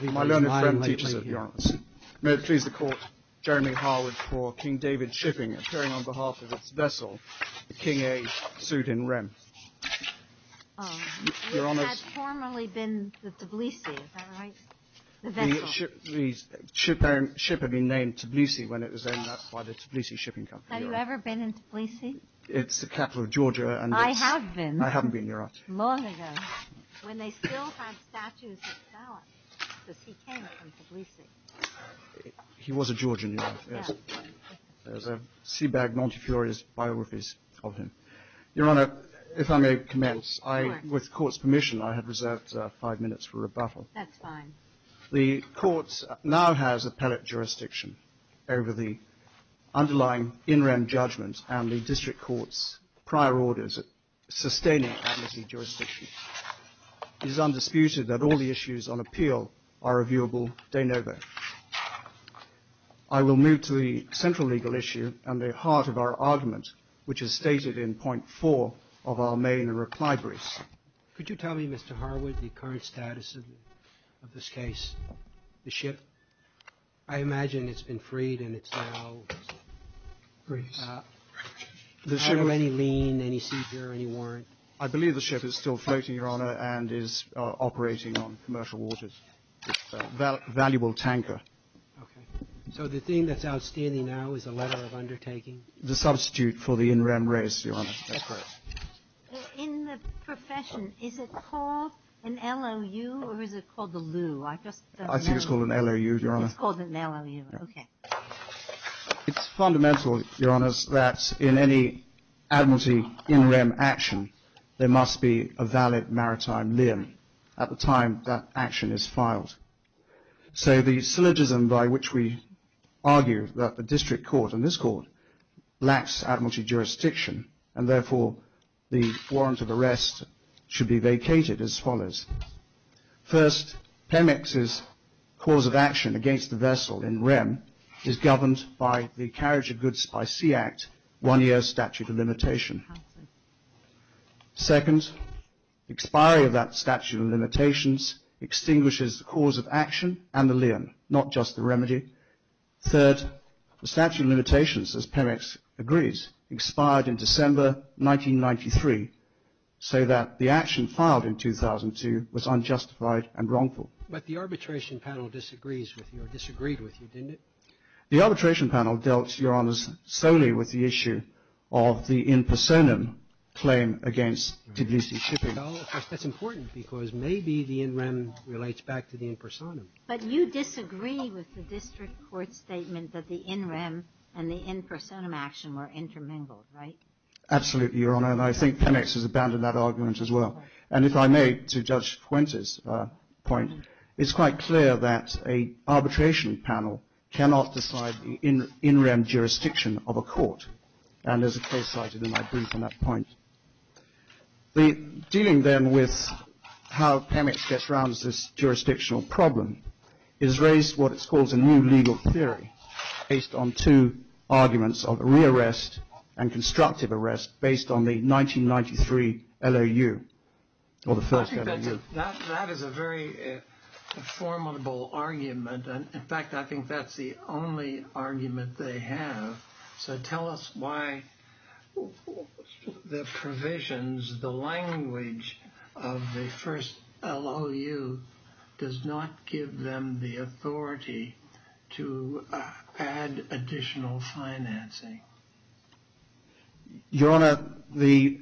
My learned friend teaches at the University of New York. May it please the Court, Jeremy Harwood for King David shipping, appearing on behalf of its vessel, the King A, sued in rem. You had formerly been the Tbilisi, is that right? The vessel? The ship had been named Tbilisi when it was owned, that's why the Tbilisi shipping company. Have you ever been in Tbilisi? It's the capital of Georgia. I have been. I haven't been, Your Honor. Long ago. When they still had statues of Stalin, because he came from Tbilisi. He was a Georgian, Your Honor. Yes. There's a sea bag Montefiore's biographies of him. Your Honor, if I may commence. Of course. With the Court's permission, I have reserved five minutes for rebuttal. That's fine. The Court now has appellate jurisdiction over the underlying in rem judgment and the district court's prior orders of sustaining advocacy jurisdiction. It is undisputed that all the issues on appeal are reviewable de novo. I will move to the central legal issue and the heart of our argument, which is stated in point four of our main recliberies. Could you tell me, Mr. Harwood, the current status of this case? The ship? I imagine it's been freed and it's now free. Any lien, any seizure, any warrant? I believe the ship is still floating, Your Honor, and is operating on commercial waters. It's a valuable tanker. Okay. So the thing that's outstanding now is a letter of undertaking? The substitute for the in rem raise, Your Honor. That's correct. In the profession, is it called an LOU or is it called a lieu? I think it's called an LOU, Your Honor. It's called an LOU. Okay. It's fundamental, Your Honor, that in any admiralty in rem action, there must be a valid maritime lien at the time that action is filed. So the syllogism by which we argue that the district court and this court lacks admiralty jurisdiction and therefore the warrant of arrest should be vacated as follows. First, PEMEX's cause of action against the vessel in rem is governed by the Carriage of Goods by Sea Act one year statute of limitation. Second, expiry of that statute of limitations extinguishes the cause of action and the lien, not just the remedy. Third, the statute of limitations, as PEMEX agrees, expired in December 1993 so that the action filed in 2002 was unjustified and wrongful. But the arbitration panel disagrees with you or disagreed with you, didn't it? The arbitration panel dealt, Your Honors, solely with the issue of the in personam claim against Tbilisi shipping. That's important because maybe the in rem relates back to the in personam. But you disagree with the district court statement that the in rem and the in personam action were intermingled, right? Absolutely, Your Honor, and I think PEMEX has abandoned that argument as well. And if I may, to Judge Fuentes' point, it's quite clear that an arbitration panel cannot decide the in rem jurisdiction of a court. And there's a case cited in my brief on that point. Dealing then with how PEMEX gets around this jurisdictional problem is raised what it's called a new legal theory based on two arguments of re-arrest and constructive arrest based on the 1993 LOU or the first LOU. That is a very formidable argument. In fact, I think that's the only argument they have. So tell us why the provisions, the language of the first LOU does not give them the authority to add additional financing. Your Honor, the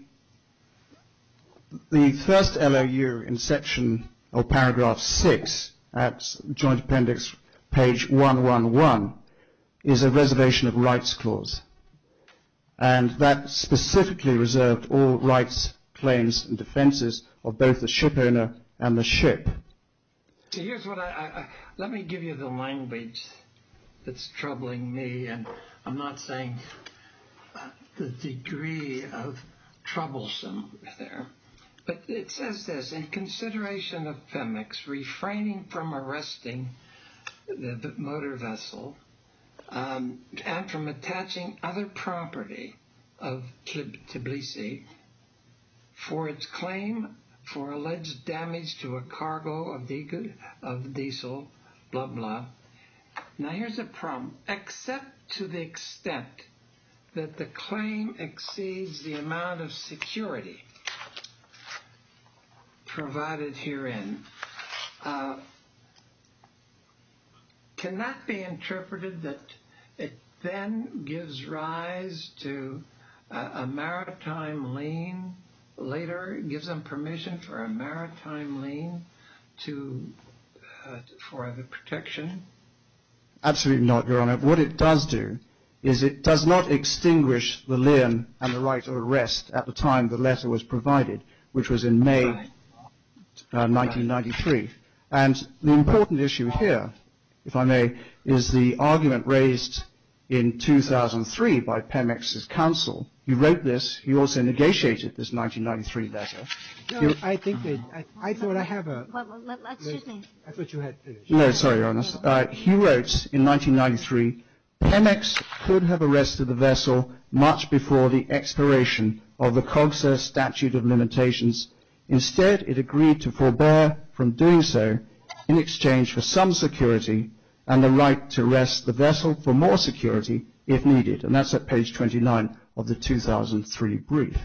first LOU in section or paragraph 6 at Joint Appendix page 111 is a reservation of rights clause. And that specifically reserved all rights, claims and defenses of both the shipowner and the ship. Here's what I let me give you the language that's troubling me, and I'm not saying the degree of troublesome there. But it says this, in consideration of PEMEX refraining from arresting the motor vessel and from attaching other property of Tbilisi for its claim for alleged damage to a cargo of diesel, blah, blah. Now here's a problem. Except to the extent that the claim exceeds the amount of security provided herein, can that be interpreted that it then gives rise to a maritime lien later, gives them permission for a maritime lien for the protection? Absolutely not, Your Honor. What it does do is it does not extinguish the lien and the right of arrest at the time the letter was provided, which was in May 1993. And the important issue here, if I may, is the argument raised in 2003 by PEMEX's counsel. He wrote this. He also negotiated this 1993 letter. Excuse me. No, sorry, Your Honor. He wrote in 1993, PEMEX could have arrested the vessel much before the expiration of the COGSA statute of limitations. Instead, it agreed to forbear from doing so in exchange for some security and the right to arrest the vessel for more security if needed. And that's at page 29 of the 2003 brief.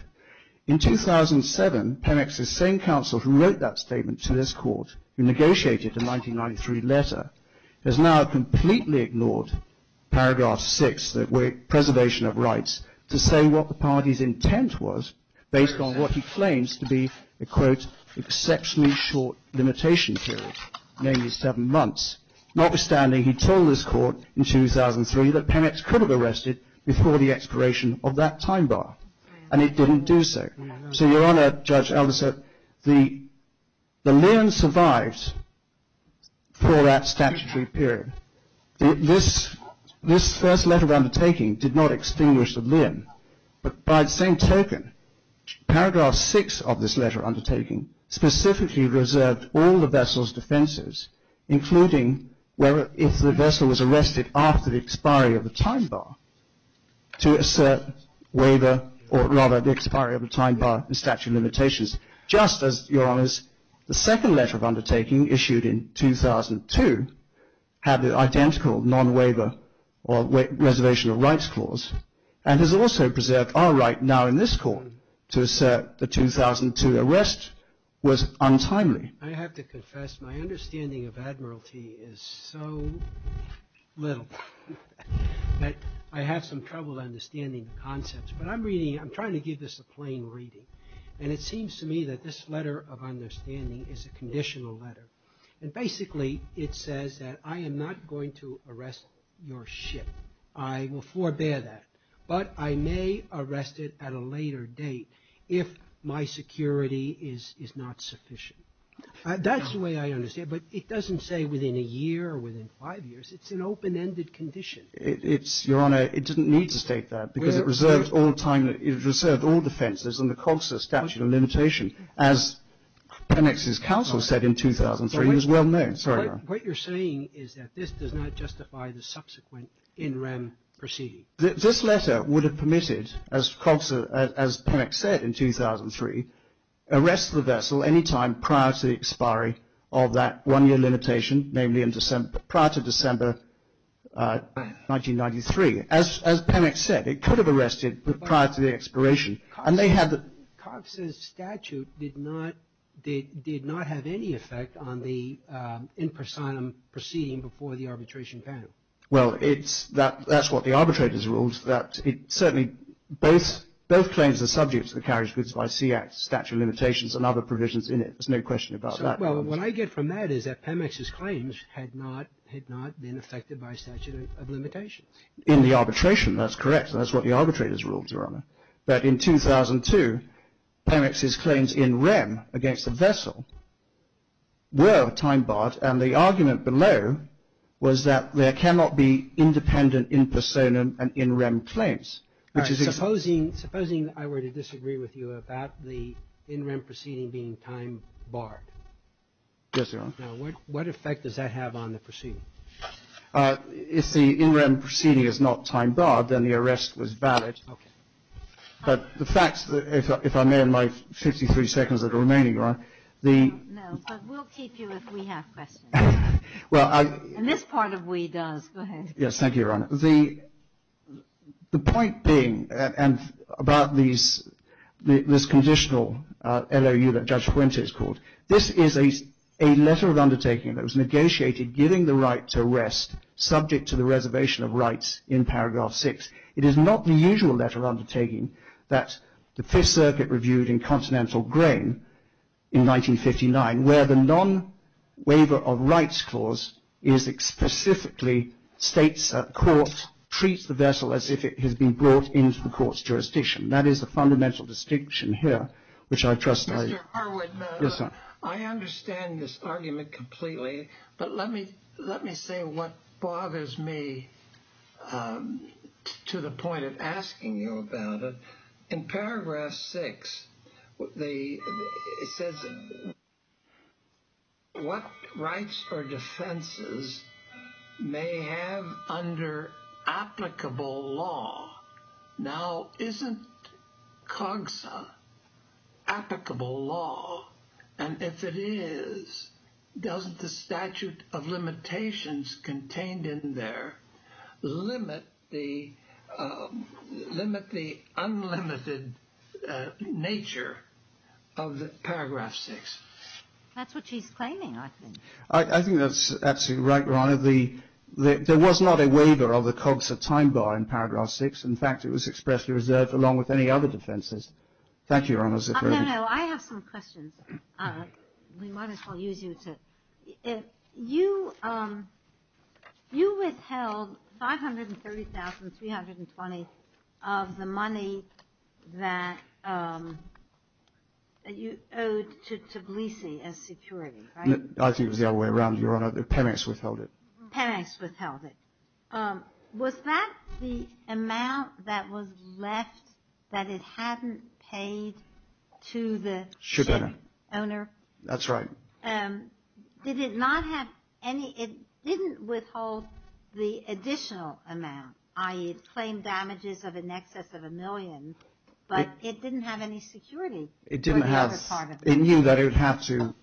In 2007, PEMEX's same counsel who wrote that statement to this court, who negotiated the 1993 letter, has now completely ignored paragraph 6, the preservation of rights, to say what the party's intent was, based on what he claims to be an exceptionally short limitation period, namely seven months. Notwithstanding, he told this court in 2003 that PEMEX could have arrested before the expiration of that time bar. And it didn't do so. So, Your Honor, Judge Alderson, the lien survives for that statutory period. This first letter undertaking did not extinguish the lien. But by the same token, paragraph 6 of this letter undertaking specifically reserved all the vessel's defenses, including if the vessel was arrested after the expiry of the time bar, to assert waiver or rather the expiry of the time bar and statute of limitations. Just as, Your Honors, the second letter of undertaking issued in 2002 had the identical non-waiver or reservation of rights clause and has also preserved our right now in this court to assert the 2002 arrest was untimely. I have to confess my understanding of admiralty is so little that I have some trouble understanding the concepts. But I'm reading, I'm trying to give this a plain reading. And it seems to me that this letter of understanding is a conditional letter. And basically it says that I am not going to arrest your ship. I will forbear that. But I may arrest it at a later date if my security is not sufficient. That's the way I understand it. But it doesn't say within a year or within five years. It's an open-ended condition. It's, Your Honor, it didn't need to state that because it reserved all the time. It reserved all defenses under COGSA statute of limitation. As Penex's counsel said in 2003, it was well known. What you're saying is that this does not justify the subsequent in rem proceeding. This letter would have permitted, as Penex said in 2003, arrest the vessel any time prior to the expiry of that one-year limitation, namely prior to December 1993. As Penex said, it could have arrested prior to the expiration. COGSA's statute did not have any effect on the in personam proceeding before the arbitration panel. Well, that's what the arbitrators ruled. Certainly, both claims are subject to the carriage goods by Sea Act statute of limitations and other provisions in it. There's no question about that. Well, what I get from that is that Penex's claims had not been affected by statute of limitations. In the arbitration, that's correct. That's what the arbitrators ruled, Your Honor. But in 2002, Penex's claims in rem against the vessel were time barred. And the argument below was that there cannot be independent in personam and in rem claims. Supposing I were to disagree with you about the in rem proceeding being time barred. Yes, Your Honor. Now, what effect does that have on the proceeding? If the in rem proceeding is not time barred, then the arrest was valid. Okay. But the fact, if I may, in my 53 seconds that are remaining, Your Honor, the. No, but we'll keep you if we have questions. Well, I. And this part of we does. Go ahead. Yes, thank you, Your Honor. The point being, and about these, this conditional LOU that Judge Fuente has called. This is a letter of undertaking that was negotiated giving the right to rest subject to the reservation of rights in paragraph 6. It is not the usual letter of undertaking that the Fifth Circuit reviewed in Continental Grain in 1959, where the non-waiver of rights clause is specifically states court treats the vessel as if it has been brought into the court's jurisdiction. That is the fundamental distinction here, which I trust. Mr. Harwood. Yes, sir. I understand this argument completely. But let me let me say what bothers me to the point of asking you about it. In paragraph six. It says. What rights or defenses may have under applicable law now isn't COGSA applicable law. And if it is, doesn't the statute of limitations contained in there limit the limit the unlimited nature of the paragraph six. That's what she's claiming. I think I think that's absolutely right. One of the there was not a waiver of the COGSA time bar in paragraph six. In fact, it was expressly reserved along with any other defenses. Thank you. I have some questions. We might as well use you to you. You withheld five hundred and thirty thousand three hundred and twenty of the money that you owed to Tbilisi as security. I think it was the other way around. Your Honor, the penance withheld it. Penance withheld it. Was that the amount that was left that it hadn't paid to the ship owner? That's right. Did it not have any. It didn't withhold the additional amount. I claimed damages of in excess of a million. But it didn't have any security. It didn't have. It knew that it would have to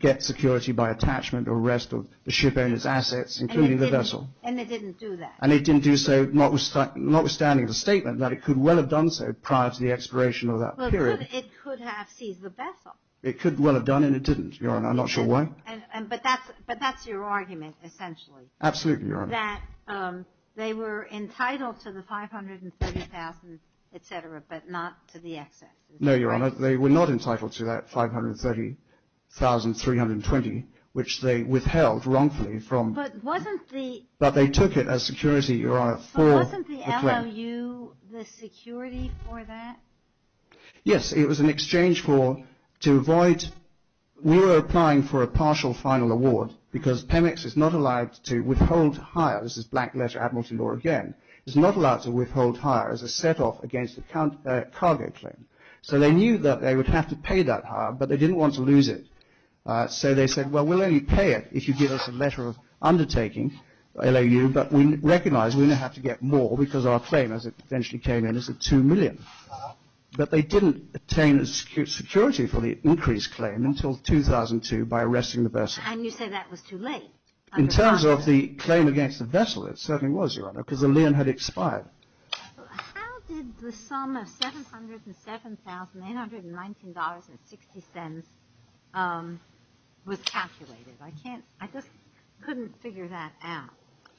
get security by attachment or rest of the ship owner's assets, including the vessel. And it didn't do that. And it didn't do so notwithstanding the statement that it could well have done so prior to the expiration of that period. It could have seized the vessel. It could well have done and it didn't, Your Honor. I'm not sure why. But that's your argument essentially. Absolutely, Your Honor. That they were entitled to the five hundred and thirty thousand, et cetera, but not to the excess. No, Your Honor. They were not entitled to that five hundred and thirty thousand three hundred and twenty, which they withheld wrongfully from. But wasn't the. But they took it as security, Your Honor, for the claim. But wasn't the LLU the security for that? Yes. It was an exchange for to avoid. We were applying for a partial final award because PEMEX is not allowed to withhold hire. This is black letter admiralty law again. It's not allowed to withhold hire as a set off against a cargo claim. So they knew that they would have to pay that hire, but they didn't want to lose it. So they said, well, we'll only pay it if you give us a letter of undertaking. But we recognize we're going to have to get more because our claim, as it eventually came in, is a two million. But they didn't attain security for the increased claim until 2002 by arresting the vessel. And you say that was too late. In terms of the claim against the vessel, it certainly was, Your Honor, because the lien had expired. How did the sum of $707,819.60 was calculated? I just couldn't figure that out.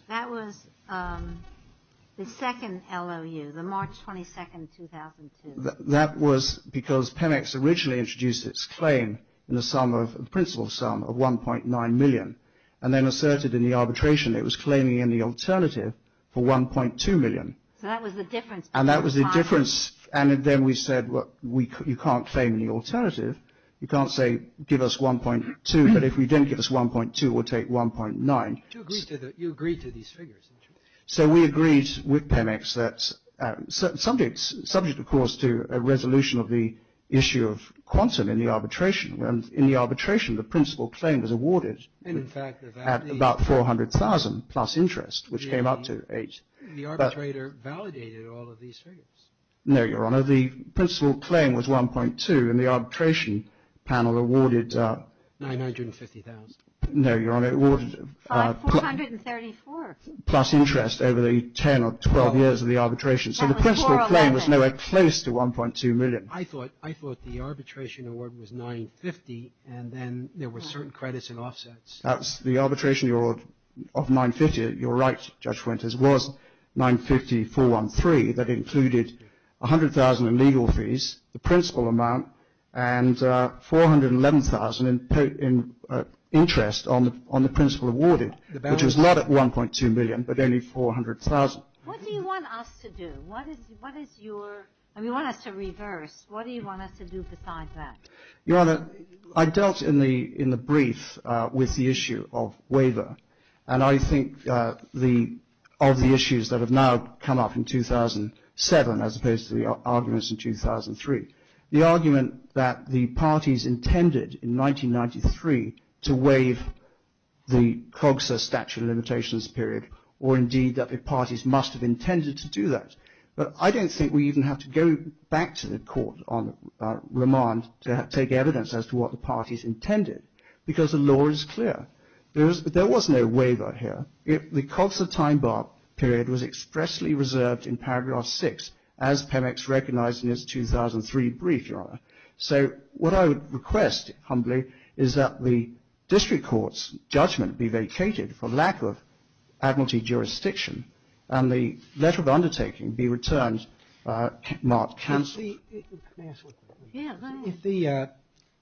That was the second LLU, the March 22, 2002. That was because PEMEX originally introduced its claim in the sum of the principal sum of 1.9 million. And then asserted in the arbitration it was claiming in the alternative for 1.2 million. So that was the difference. And that was the difference. And then we said, well, you can't claim the alternative. You can't say give us 1.2. But if you didn't give us 1.2, we'll take 1.9. You agreed to these figures, didn't you? So we agreed with PEMEX that subject, of course, to a resolution of the issue of quantum in the arbitration. And in the arbitration, the principal claim was awarded at about 400,000 plus interest, which came up to 8. The arbitrator validated all of these figures. No, Your Honor. The principal claim was 1.2. And the arbitration panel awarded 950,000. No, Your Honor. It awarded 434. Plus interest over the 10 or 12 years of the arbitration. So the principal claim was nowhere close to 1.2 million. I thought the arbitration award was 950,000. And then there were certain credits and offsets. The arbitration award of 950,000, you're right, Judge Winters, was 950,413. That included 100,000 in legal fees, the principal amount, and 411,000 in interest on the principal awarded, which was not at 1.2 million, but only 400,000. What do you want us to do? I mean, you want us to reverse. What do you want us to do besides that? Your Honor, I dealt in the brief with the issue of waiver. And I think of the issues that have now come up in 2007 as opposed to the arguments in 2003, the argument that the parties intended in 1993 to waive the COGSA statute of limitations period, or indeed that the parties must have intended to do that. But I don't think we even have to go back to the court on remand to take evidence as to what the parties intended, because the law is clear. There was no waiver here. The COGSA time bar period was expressly reserved in paragraph 6, as PEMEX recognized in its 2003 brief, Your Honor. So what I would request, humbly, is that the district court's judgment be vacated for lack of admiralty jurisdiction, and the letter of undertaking be returned marked counsel.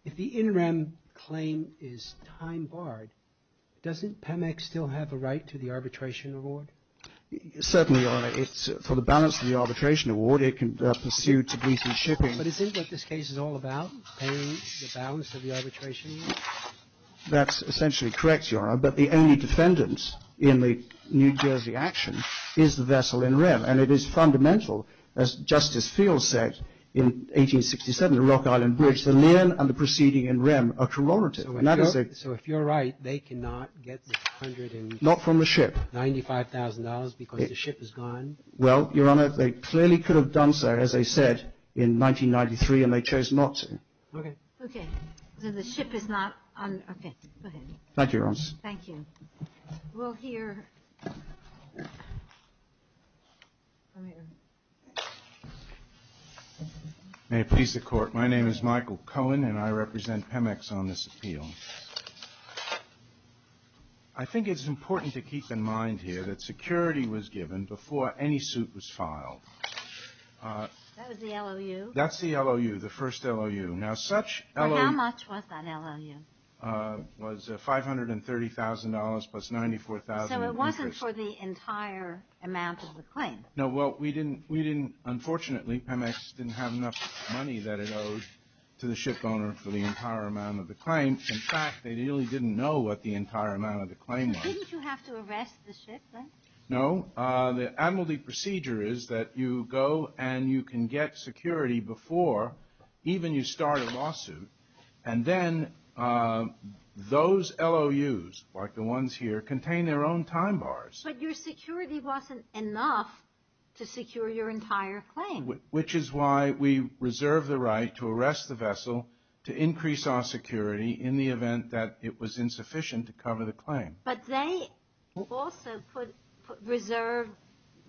If the interim claim is time barred, doesn't PEMEX still have a right to the arbitration award? Certainly, Your Honor. For the balance of the arbitration award, it can pursue Tbilisi shipping. But isn't what this case is all about, paying the balance of the arbitration award? That's essentially correct, Your Honor. But the only defendant in the New Jersey action is the vessel in rem, and it is fundamental, as Justice Fields said in 1867, the Rock Island Bridge. The lien and the proceeding in rem are corroborative. So if you're right, they cannot get the $100,000. Not from the ship. $95,000 because the ship is gone. Well, Your Honor, they clearly could have done so, as I said, in 1993, and they chose not to. Okay. Okay. So the ship is not on. Okay. Go ahead. Thank you, Your Honor. Thank you. We'll hear. May it please the Court. My name is Michael Cohen, and I represent PEMEX on this appeal. I think it's important to keep in mind here that security was given before any suit was filed. That was the LOU? That's the LOU, the first LOU. Now, such LOU. How much was that LOU? It was $530,000 plus $94,000 in interest. So it wasn't for the entire amount of the claim? No. Well, we didn't, unfortunately, PEMEX didn't have enough money that it owed to the ship owner for the entire amount of the claim. In fact, they really didn't know what the entire amount of the claim was. Didn't you have to arrest the ship then? No. The admiralty procedure is that you go and you can get security before even you start a lawsuit, and then those LOUs, like the ones here, contain their own time bars. But your security wasn't enough to secure your entire claim. Which is why we reserved the right to arrest the vessel to increase our security in the event that it was insufficient to cover the claim. But they also reserved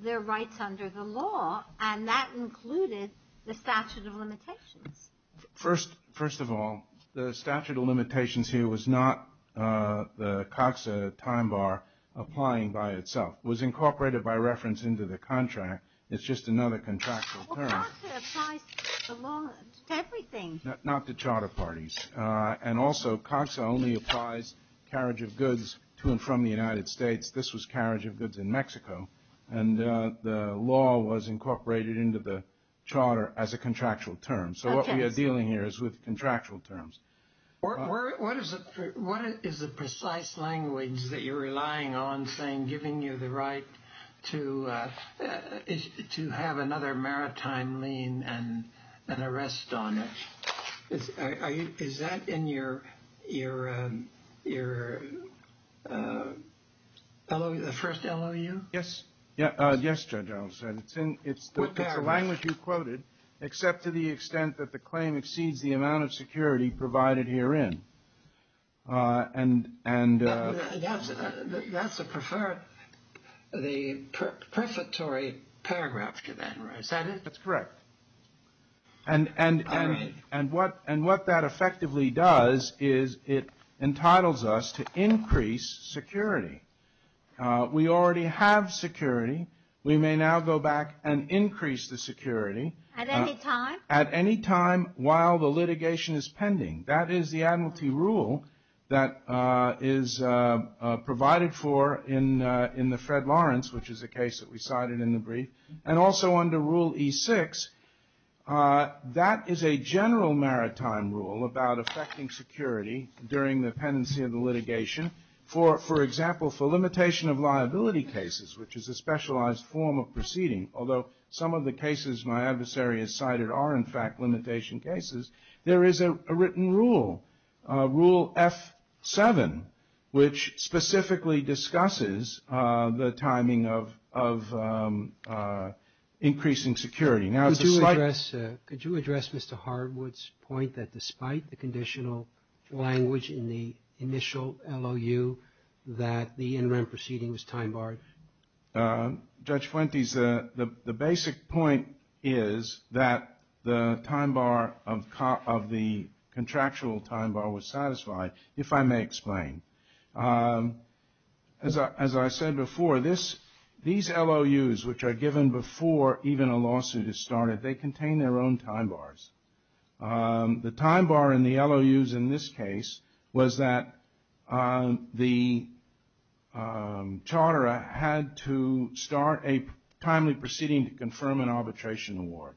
their rights under the law, and that included the statute of limitations. First of all, the statute of limitations here was not the COTSA time bar applying by itself. It was incorporated by reference into the contract. It's just another contractual term. Well, COTSA applies to the law, to everything. Not to charter parties. And also, COTSA only applies carriage of goods to and from the United States. This was carriage of goods in Mexico. And the law was incorporated into the charter as a contractual term. So what we are dealing here is with contractual terms. What is the precise language that you're relying on saying giving you the right to have another maritime lien and an arrest on it? Is that in your first LOU? Yes. Yes, Judge, I'll say it. It's the language you quoted, except to the extent that the claim exceeds the amount of security provided herein. That's the prefatory paragraph, is that it? That's correct. And what that effectively does is it entitles us to increase security. We already have security. We may now go back and increase the security. At any time? At any time while the litigation is pending. That is the admiralty rule that is provided for in the Fred Lawrence, which is a case that we cited in the brief. And also under Rule E6, that is a general maritime rule about affecting security during the pendency of the litigation. For example, for limitation of liability cases, which is a specialized form of proceeding, although some of the cases my adversary has cited are, in fact, limitation cases, there is a written rule, Rule F7, which specifically discusses the timing of increasing security. Could you address Mr. Hardwood's point that despite the conditional language in the initial LOU that the interim proceeding was time-barred? Judge Fuentes, the basic point is that the time bar of the contractual time bar was satisfied, if I may explain. As I said before, these LOUs, which are given before even a lawsuit is started, they contain their own time bars. The time bar in the LOUs in this case was that the charter had to start a timely proceeding to confirm an arbitration award.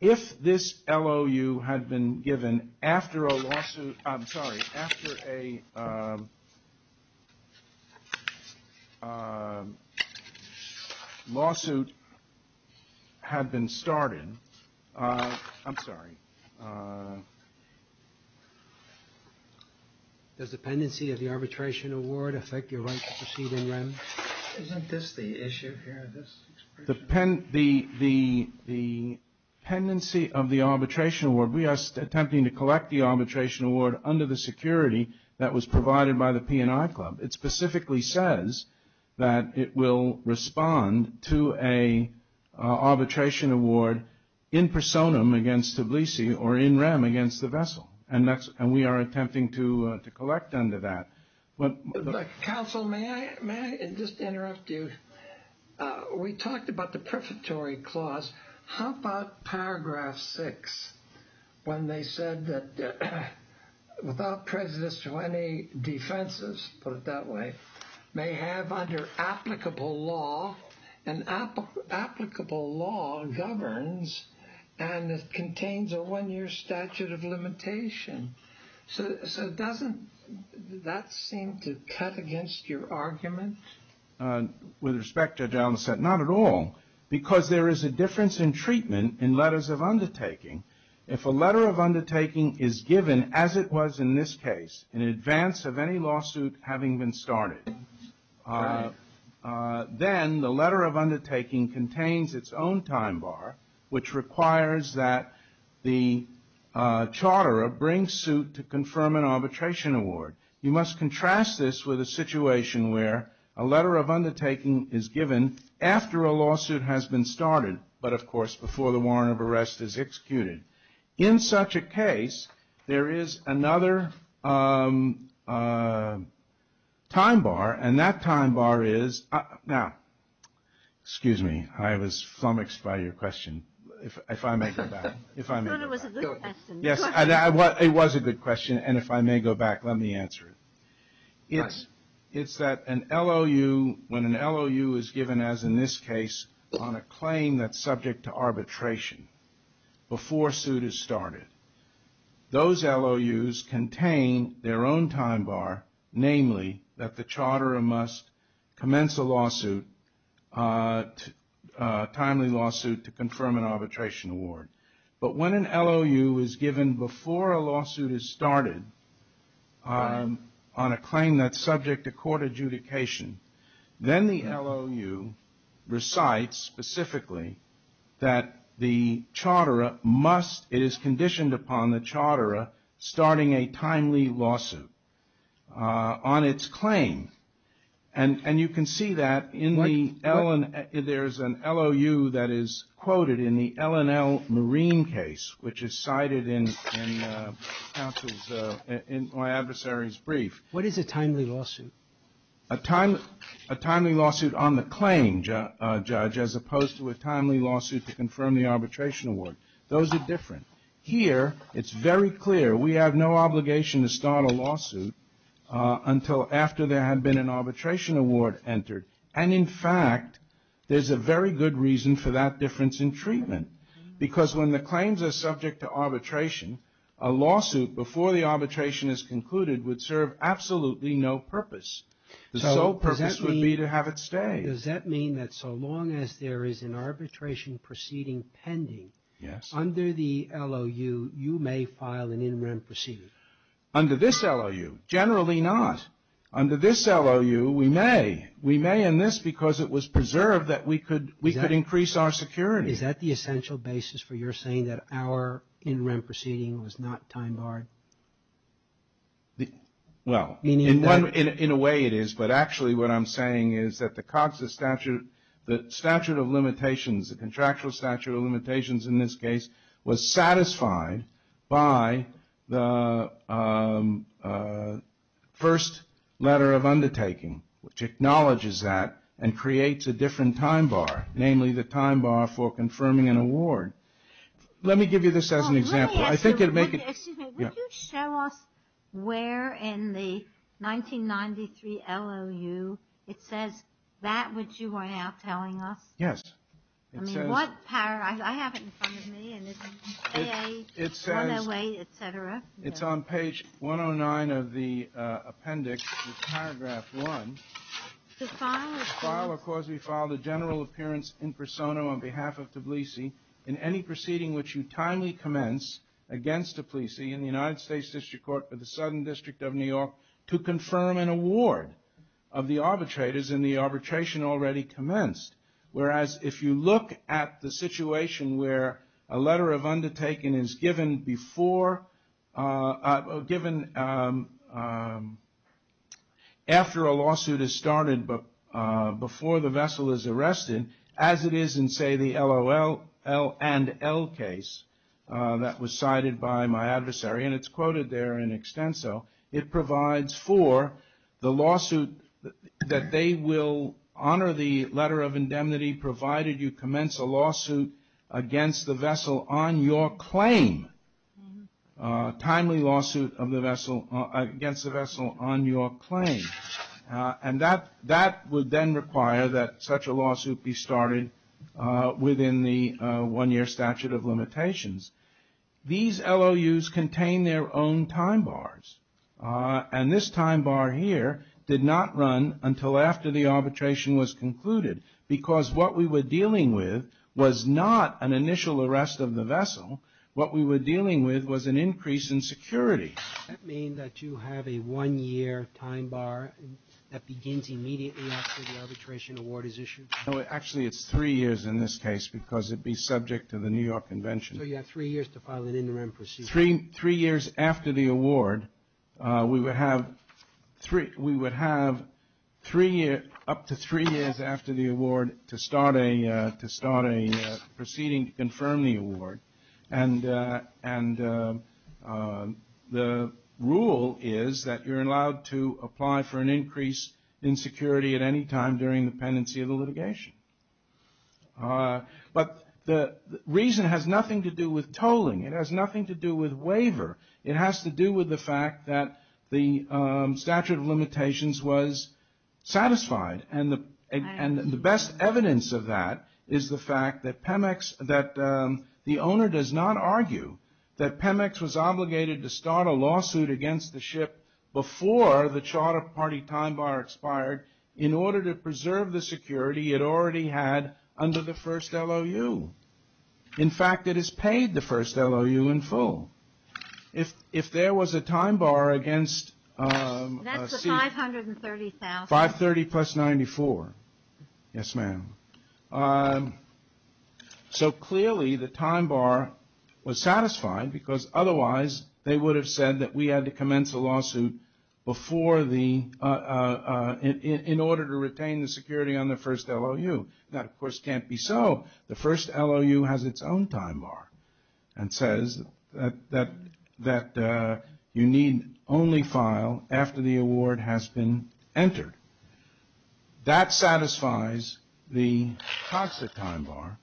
If this LOU had been given after a lawsuit, I'm sorry, after a lawsuit had been started, I'm sorry. Does the pendency of the arbitration award affect your right to proceed in REM? Isn't this the issue here? The pendency of the arbitration award, we are attempting to collect the arbitration award under the security that was provided by the P&I Club. It specifically says that it will respond to an arbitration award in personam against Tbilisi or in REM against the vessel, and we are attempting to collect under that. Counsel, may I just interrupt you? We talked about the prefatory clause. How about paragraph six when they said that without prejudice to any defenses, put it that way, may have under applicable law, and applicable law governs and contains a one-year statute of limitation. So doesn't that seem to cut against your argument? With respect, Judge Almas said, not at all, because there is a difference in treatment in letters of undertaking. If a letter of undertaking is given as it was in this case in advance of any lawsuit having been started, then the letter of undertaking contains its own time bar, which requires that the charterer bring suit to confirm an arbitration award. You must contrast this with a situation where a letter of undertaking is given after a lawsuit has been started, but of course before the warrant of arrest is executed. In such a case, there is another time bar, and that time bar is, now, excuse me, I was flummoxed by your question. If I may go back. I thought it was a good question. Yes, it was a good question, and if I may go back, let me answer it. It's that an LOU, when an LOU is given as in this case on a claim that's subject to arbitration, before suit is started, those LOUs contain their own time bar, namely that the charterer must commence a lawsuit, a timely lawsuit to confirm an arbitration award. But when an LOU is given before a lawsuit is started on a claim that's subject to court adjudication, then the LOU recites specifically that the charterer must, it is conditioned upon the charterer, starting a timely lawsuit on its claim. And you can see that in the, there's an LOU that is quoted in the LNL Marine case, which is cited in my adversary's brief. What is a timely lawsuit? A timely lawsuit on the claim, Judge, as opposed to a timely lawsuit to confirm the arbitration award. Those are different. Here, it's very clear. We have no obligation to start a lawsuit until after there had been an arbitration award entered. And in fact, there's a very good reason for that difference in treatment. Because when the claims are subject to arbitration, a lawsuit before the arbitration is concluded would serve absolutely no purpose. The sole purpose would be to have it stay. Does that mean that so long as there is an arbitration proceeding pending under the LOU, you may file an in-rem proceeding? Under this LOU, generally not. Under this LOU, we may. We may in this because it was preserved that we could increase our security. Is that the essential basis for your saying that our in-rem proceeding was not time-barred? Well, in a way it is, but actually what I'm saying is that the COGSA statute, the statute of limitations, the contractual statute of limitations in this case, was satisfied by the first letter of undertaking, which acknowledges that and creates a different time bar, namely the time bar for confirming an award. Let me give you this as an example. Excuse me. Would you show us where in the 1993 LOU it says that which you are now telling us? Yes. I mean, what paragraph? I have it in front of me. It says it's on page 109 of the appendix, paragraph 1. To file a cause. To file a cause, we file the general appearance in persona on behalf of Tbilisi in any proceeding which you timely commence against Tbilisi in the United States District Court or the Southern District of New York to confirm an award of the arbitrators in the arbitration already commenced. Whereas if you look at the situation where a letter of undertaking is given before, given after a lawsuit is started before the vessel is arrested, as it is in, say, the LOL and L case that was cited by my adversary, and it's quoted there in extenso, it provides for the lawsuit that they will honor the letter of indemnity provided you commence a lawsuit against the vessel on your claim. Timely lawsuit against the vessel on your claim. And that would then require that such a lawsuit be started within the one-year statute of limitations. These LOUs contain their own time bars. And this time bar here did not run until after the arbitration was concluded because what we were dealing with was not an initial arrest of the vessel. What we were dealing with was an increase in security. Does that mean that you have a one-year time bar that begins immediately after the arbitration award is issued? No, actually it's three years in this case because it'd be subject to the New York Convention. So you have three years to file an interim procedure. Three years after the award, we would have three, up to three years after the award to start a proceeding to confirm the award. And the rule is that you're allowed to apply for an increase in security at any time during the pendency of the litigation. But the reason has nothing to do with tolling. It has to do with the fact that the statute of limitations was satisfied. And the best evidence of that is the fact that PEMEX, that the owner does not argue that PEMEX was obligated to start a lawsuit against the ship before the Charter Party time bar expired in order to preserve the security it already had under the first LOU. In fact, it has paid the first LOU in full. If there was a time bar against... That's the $530,000. $530,000 plus $94,000. Yes, ma'am. So clearly the time bar was satisfied because otherwise they would have said that we had to commence a lawsuit in order to retain the security on the first LOU. That, of course, can't be so. The first LOU has its own time bar and says that you need only file after the award has been entered. That satisfies the toxic time bar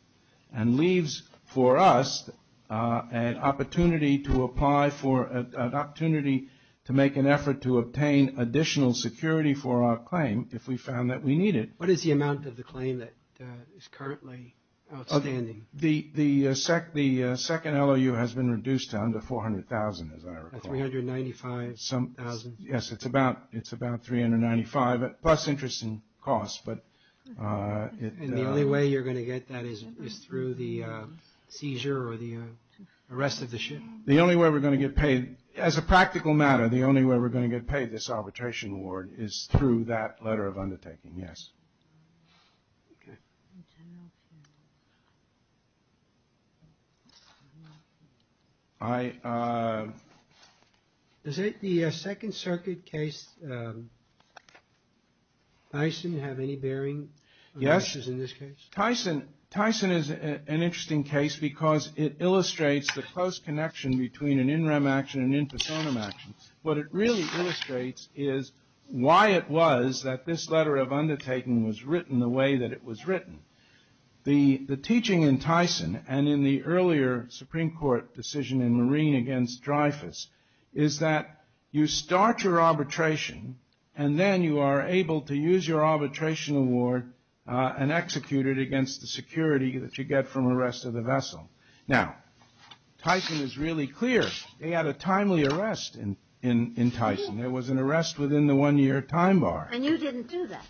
and leaves for us an opportunity to apply for an opportunity to make an effort to obtain additional security for our claim if we found that we need it. What is the amount of the claim that is currently outstanding? The second LOU has been reduced to under $400,000, as I recall. $395,000. Yes, it's about $395,000 plus interest and costs. And the only way you're going to get that is through the seizure or the arrest of the ship? The only way we're going to get paid, as a practical matter, the only way we're going to get paid this arbitration award is through that letter of undertaking. Yes. Does the Second Circuit case, Tyson, have any bearing on this case? Yes. Tyson is an interesting case because it illustrates the close connection between an in rem action and an in personam action. What it really illustrates is why it was that this letter of undertaking was written the way that it was written. The teaching in Tyson and in the earlier Supreme Court decision in Marine against Dreyfus is that you start your arbitration and then you are able to use your arbitration award and execute it against the security that you get from arrest of the vessel. Now, Tyson is really clear. They had a timely arrest in Tyson. There was an arrest within the one year time bar. And you didn't do that?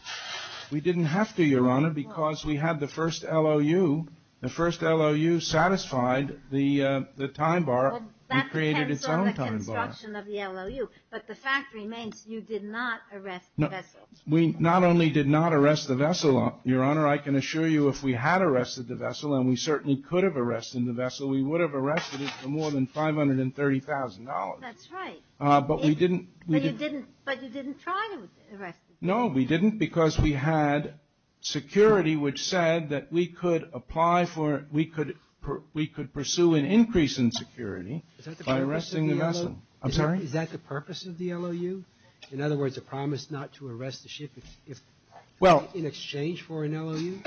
We didn't have to, Your Honor, because we had the first LOU. The first LOU satisfied the time bar. Well, that depends on the construction of the LOU. But the fact remains you did not arrest the vessel. We not only did not arrest the vessel, Your Honor. I can assure you if we had arrested the vessel, and we certainly could have arrested the vessel, we would have arrested it for more than $530,000. That's right. But we didn't. But you didn't try to arrest it. No, we didn't because we had security which said that we could apply for we could pursue an increase in security by arresting the vessel. I'm sorry? Is that the purpose of the LOU? In other words, a promise not to arrest the ship in exchange for an LOU?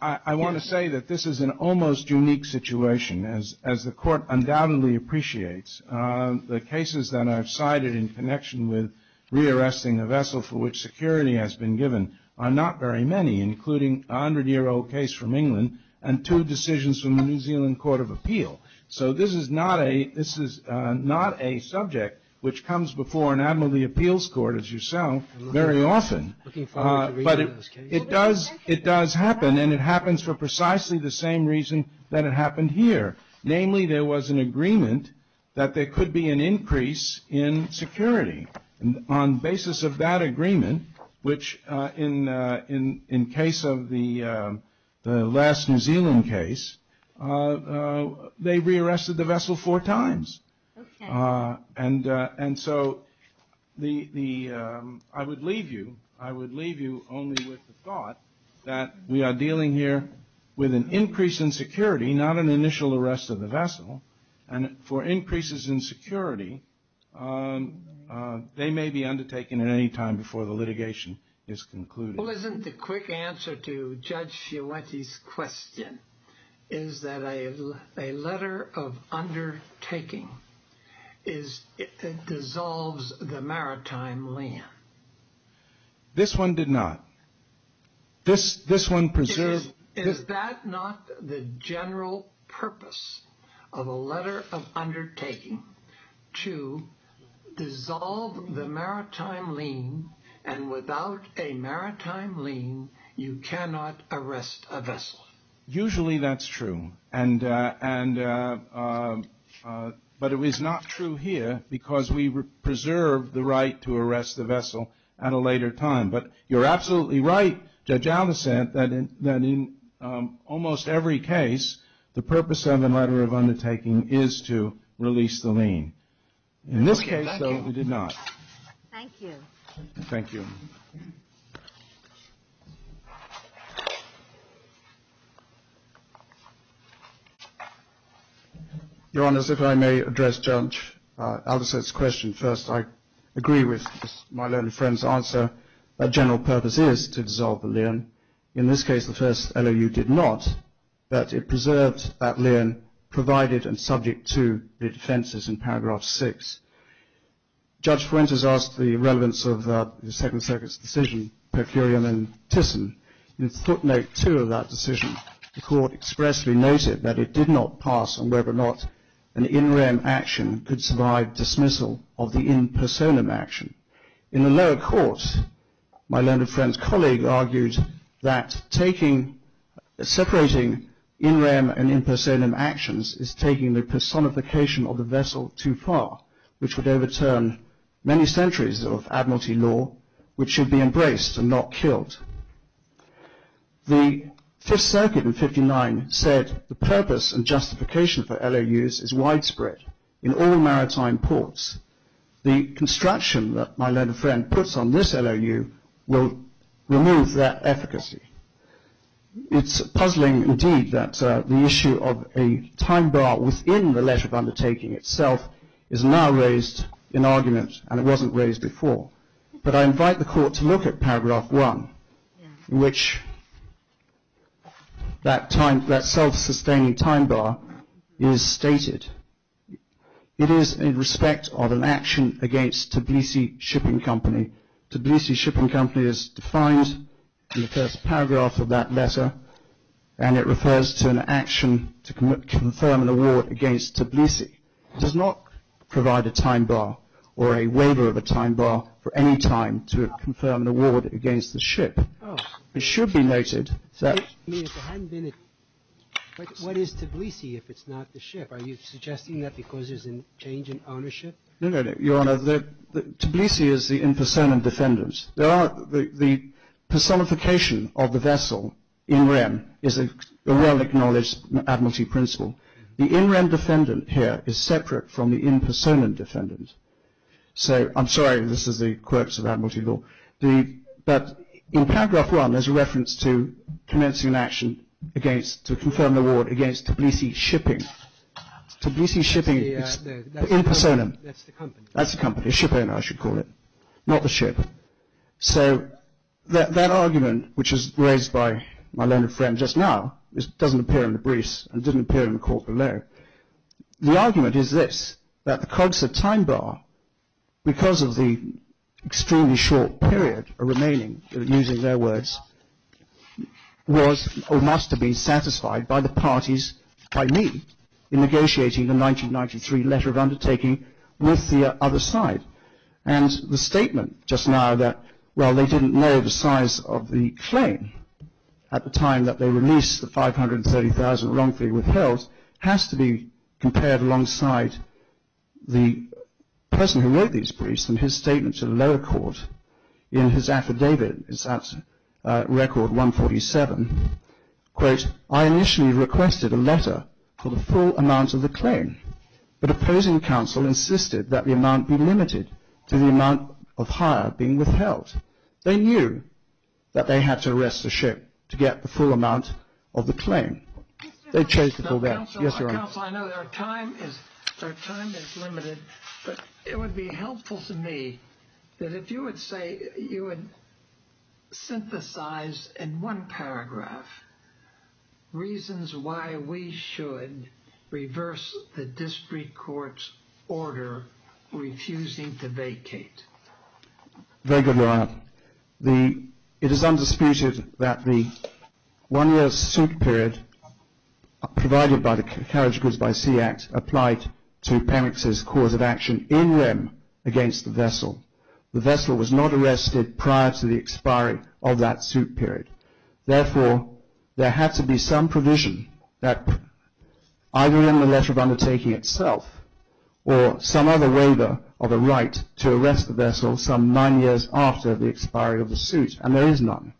I want to say that this is an almost unique situation. As the Court undoubtedly appreciates, the cases that I've cited in connection with re-arresting a vessel for which security has been given are not very many, including a 100-year-old case from England and two decisions from the New Zealand Court of Appeal. So this is not a subject which comes before an admiralty appeals court, as you sound, very often. But it does happen, and it happens for precisely the same reason that it happened here. Namely, there was an agreement that there could be an increase in security. And on basis of that agreement, which in case of the last New Zealand case, they re-arrested the vessel four times. And so I would leave you only with the thought that we are dealing here with an increase in security, not an initial arrest of the vessel. And for increases in security, they may be undertaken at any time before the litigation is concluded. Well, isn't the quick answer to Judge Chiawetti's question is that a letter of undertaking dissolves the maritime land? This one did not. Is that not the general purpose of a letter of undertaking? To dissolve the maritime lien, and without a maritime lien, you cannot arrest a vessel. Usually that's true, but it was not true here because we preserved the right to arrest the vessel at a later time. But you're absolutely right, Judge Aldersett, that in almost every case, the purpose of a letter of undertaking is to release the lien. In this case, though, it did not. Thank you. Thank you. Your Honours, if I may address Judge Aldersett's question first. I agree with my learned friend's answer that the general purpose is to dissolve the lien. In this case, the first LOU did not, but it preserved that lien provided and subject to the defences in paragraph 6. Judge Fuentes asked the relevance of the Second Circuit's decision, per curiam and tisum. In footnote 2 of that decision, the Court expressly noted that it did not pass on whether or not an in rem action could survive dismissal of the in personam action. In the lower court, my learned friend's colleague argued that separating in rem and in personam actions is taking the personification of the vessel too far, which would overturn many centuries of admiralty law, which should be embraced and not killed. The Fifth Circuit in 59 said the purpose and justification for LOUs is widespread in all maritime ports. The construction that my learned friend puts on this LOU will remove that efficacy. It's puzzling, indeed, that the issue of a time bar within the letter of undertaking itself is now raised in argument, and it wasn't raised before. But I invite the Court to look at paragraph 1, in which that self-sustaining time bar is stated. It is in respect of an action against Tbilisi Shipping Company. Tbilisi Shipping Company is defined in the first paragraph of that letter, and it refers to an action to confirm an award against Tbilisi. It does not provide a time bar or a waiver of a time bar for any time to confirm an award against the ship. It should be noted that... What is Tbilisi if it's not the ship? Are you suggesting that because there's a change in ownership? No, no, no, Your Honor. Tbilisi is the in personam defendant. The personification of the vessel in rem is a well-acknowledged admiralty principle. The in rem defendant here is separate from the in personam defendant. So I'm sorry, this is the quirks of admiralty law. But in paragraph 1, there's a reference to commencing an action to confirm an award against Tbilisi Shipping. Tbilisi Shipping is in personam. That's the company. That's the company. Ship owner, I should call it. Not the ship. So that argument, which was raised by my learned friend just now, doesn't appear in the briefs and didn't appear in the court below. The argument is this. That the COGSA time bar, because of the extremely short period remaining, using their words, was or must have been satisfied by the parties, by me, in negotiating the 1993 letter of undertaking with the other side. And the statement just now that, well, they didn't know the size of the claim at the time that they released the 530,000 wrongfully withheld, has to be compared alongside the person who wrote these briefs and his statement to the lower court in his affidavit. It's at record 147. Quote, I initially requested a letter for the full amount of the claim. But opposing counsel insisted that the amount be limited to the amount of hire being withheld. They knew that they had to arrest the ship to get the full amount of the claim. They changed it to that. Yes, Your Honor. Counsel, I know our time is limited, but it would be helpful to me that if you would say, you would synthesize in one paragraph reasons why we should reverse the district court's order refusing to vacate. Very good, Your Honor. It is undisputed that the one-year suit period provided by the Carriage Goods by Sea Act applied to Pemex's cause of action in rem against the vessel. The vessel was not arrested prior to the expiry of that suit period. Therefore, there had to be some provision that either in the letter of undertaking itself or some other waiver of a right to arrest the vessel some nine years after the expiry of the suit. And there is none.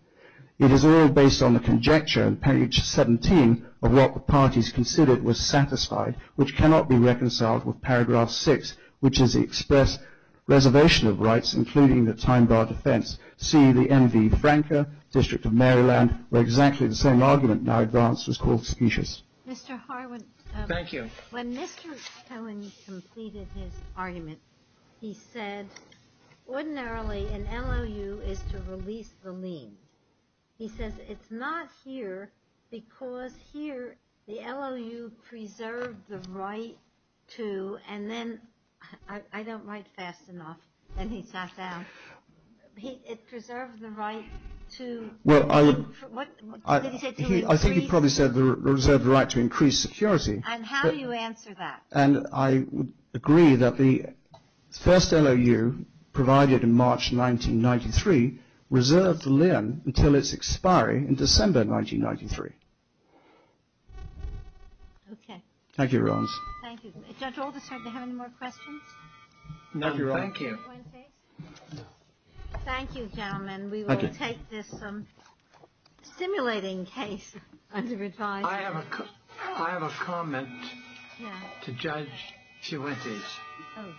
It is all based on the conjecture on page 17 of what the parties considered was satisfied, which cannot be reconciled with paragraph 6, which is the express reservation of rights, including the time bar defense. See the MV Franca, District of Maryland, where exactly the same argument now advanced was called facetious. Mr. Harwin. Thank you. When Mr. Harwin completed his argument, he said, ordinarily, an LOU is to release the lien. He says it's not here because here the LOU preserved the right to, and then, I don't write fast enough, and he sat down. It preserved the right to. Well, I would. What did he say? I think he probably said it reserved the right to increase security. And how do you answer that? And I agree that the first LOU provided in March 1993 reserved the lien until its expiry in December 1993. Thank you, Your Honors. Thank you. Judge Alderson, do you have any more questions? No, Your Honor. Thank you. Thank you, gentlemen. We will take this simulating case under advice. I have a comment to Judge Ciuentes.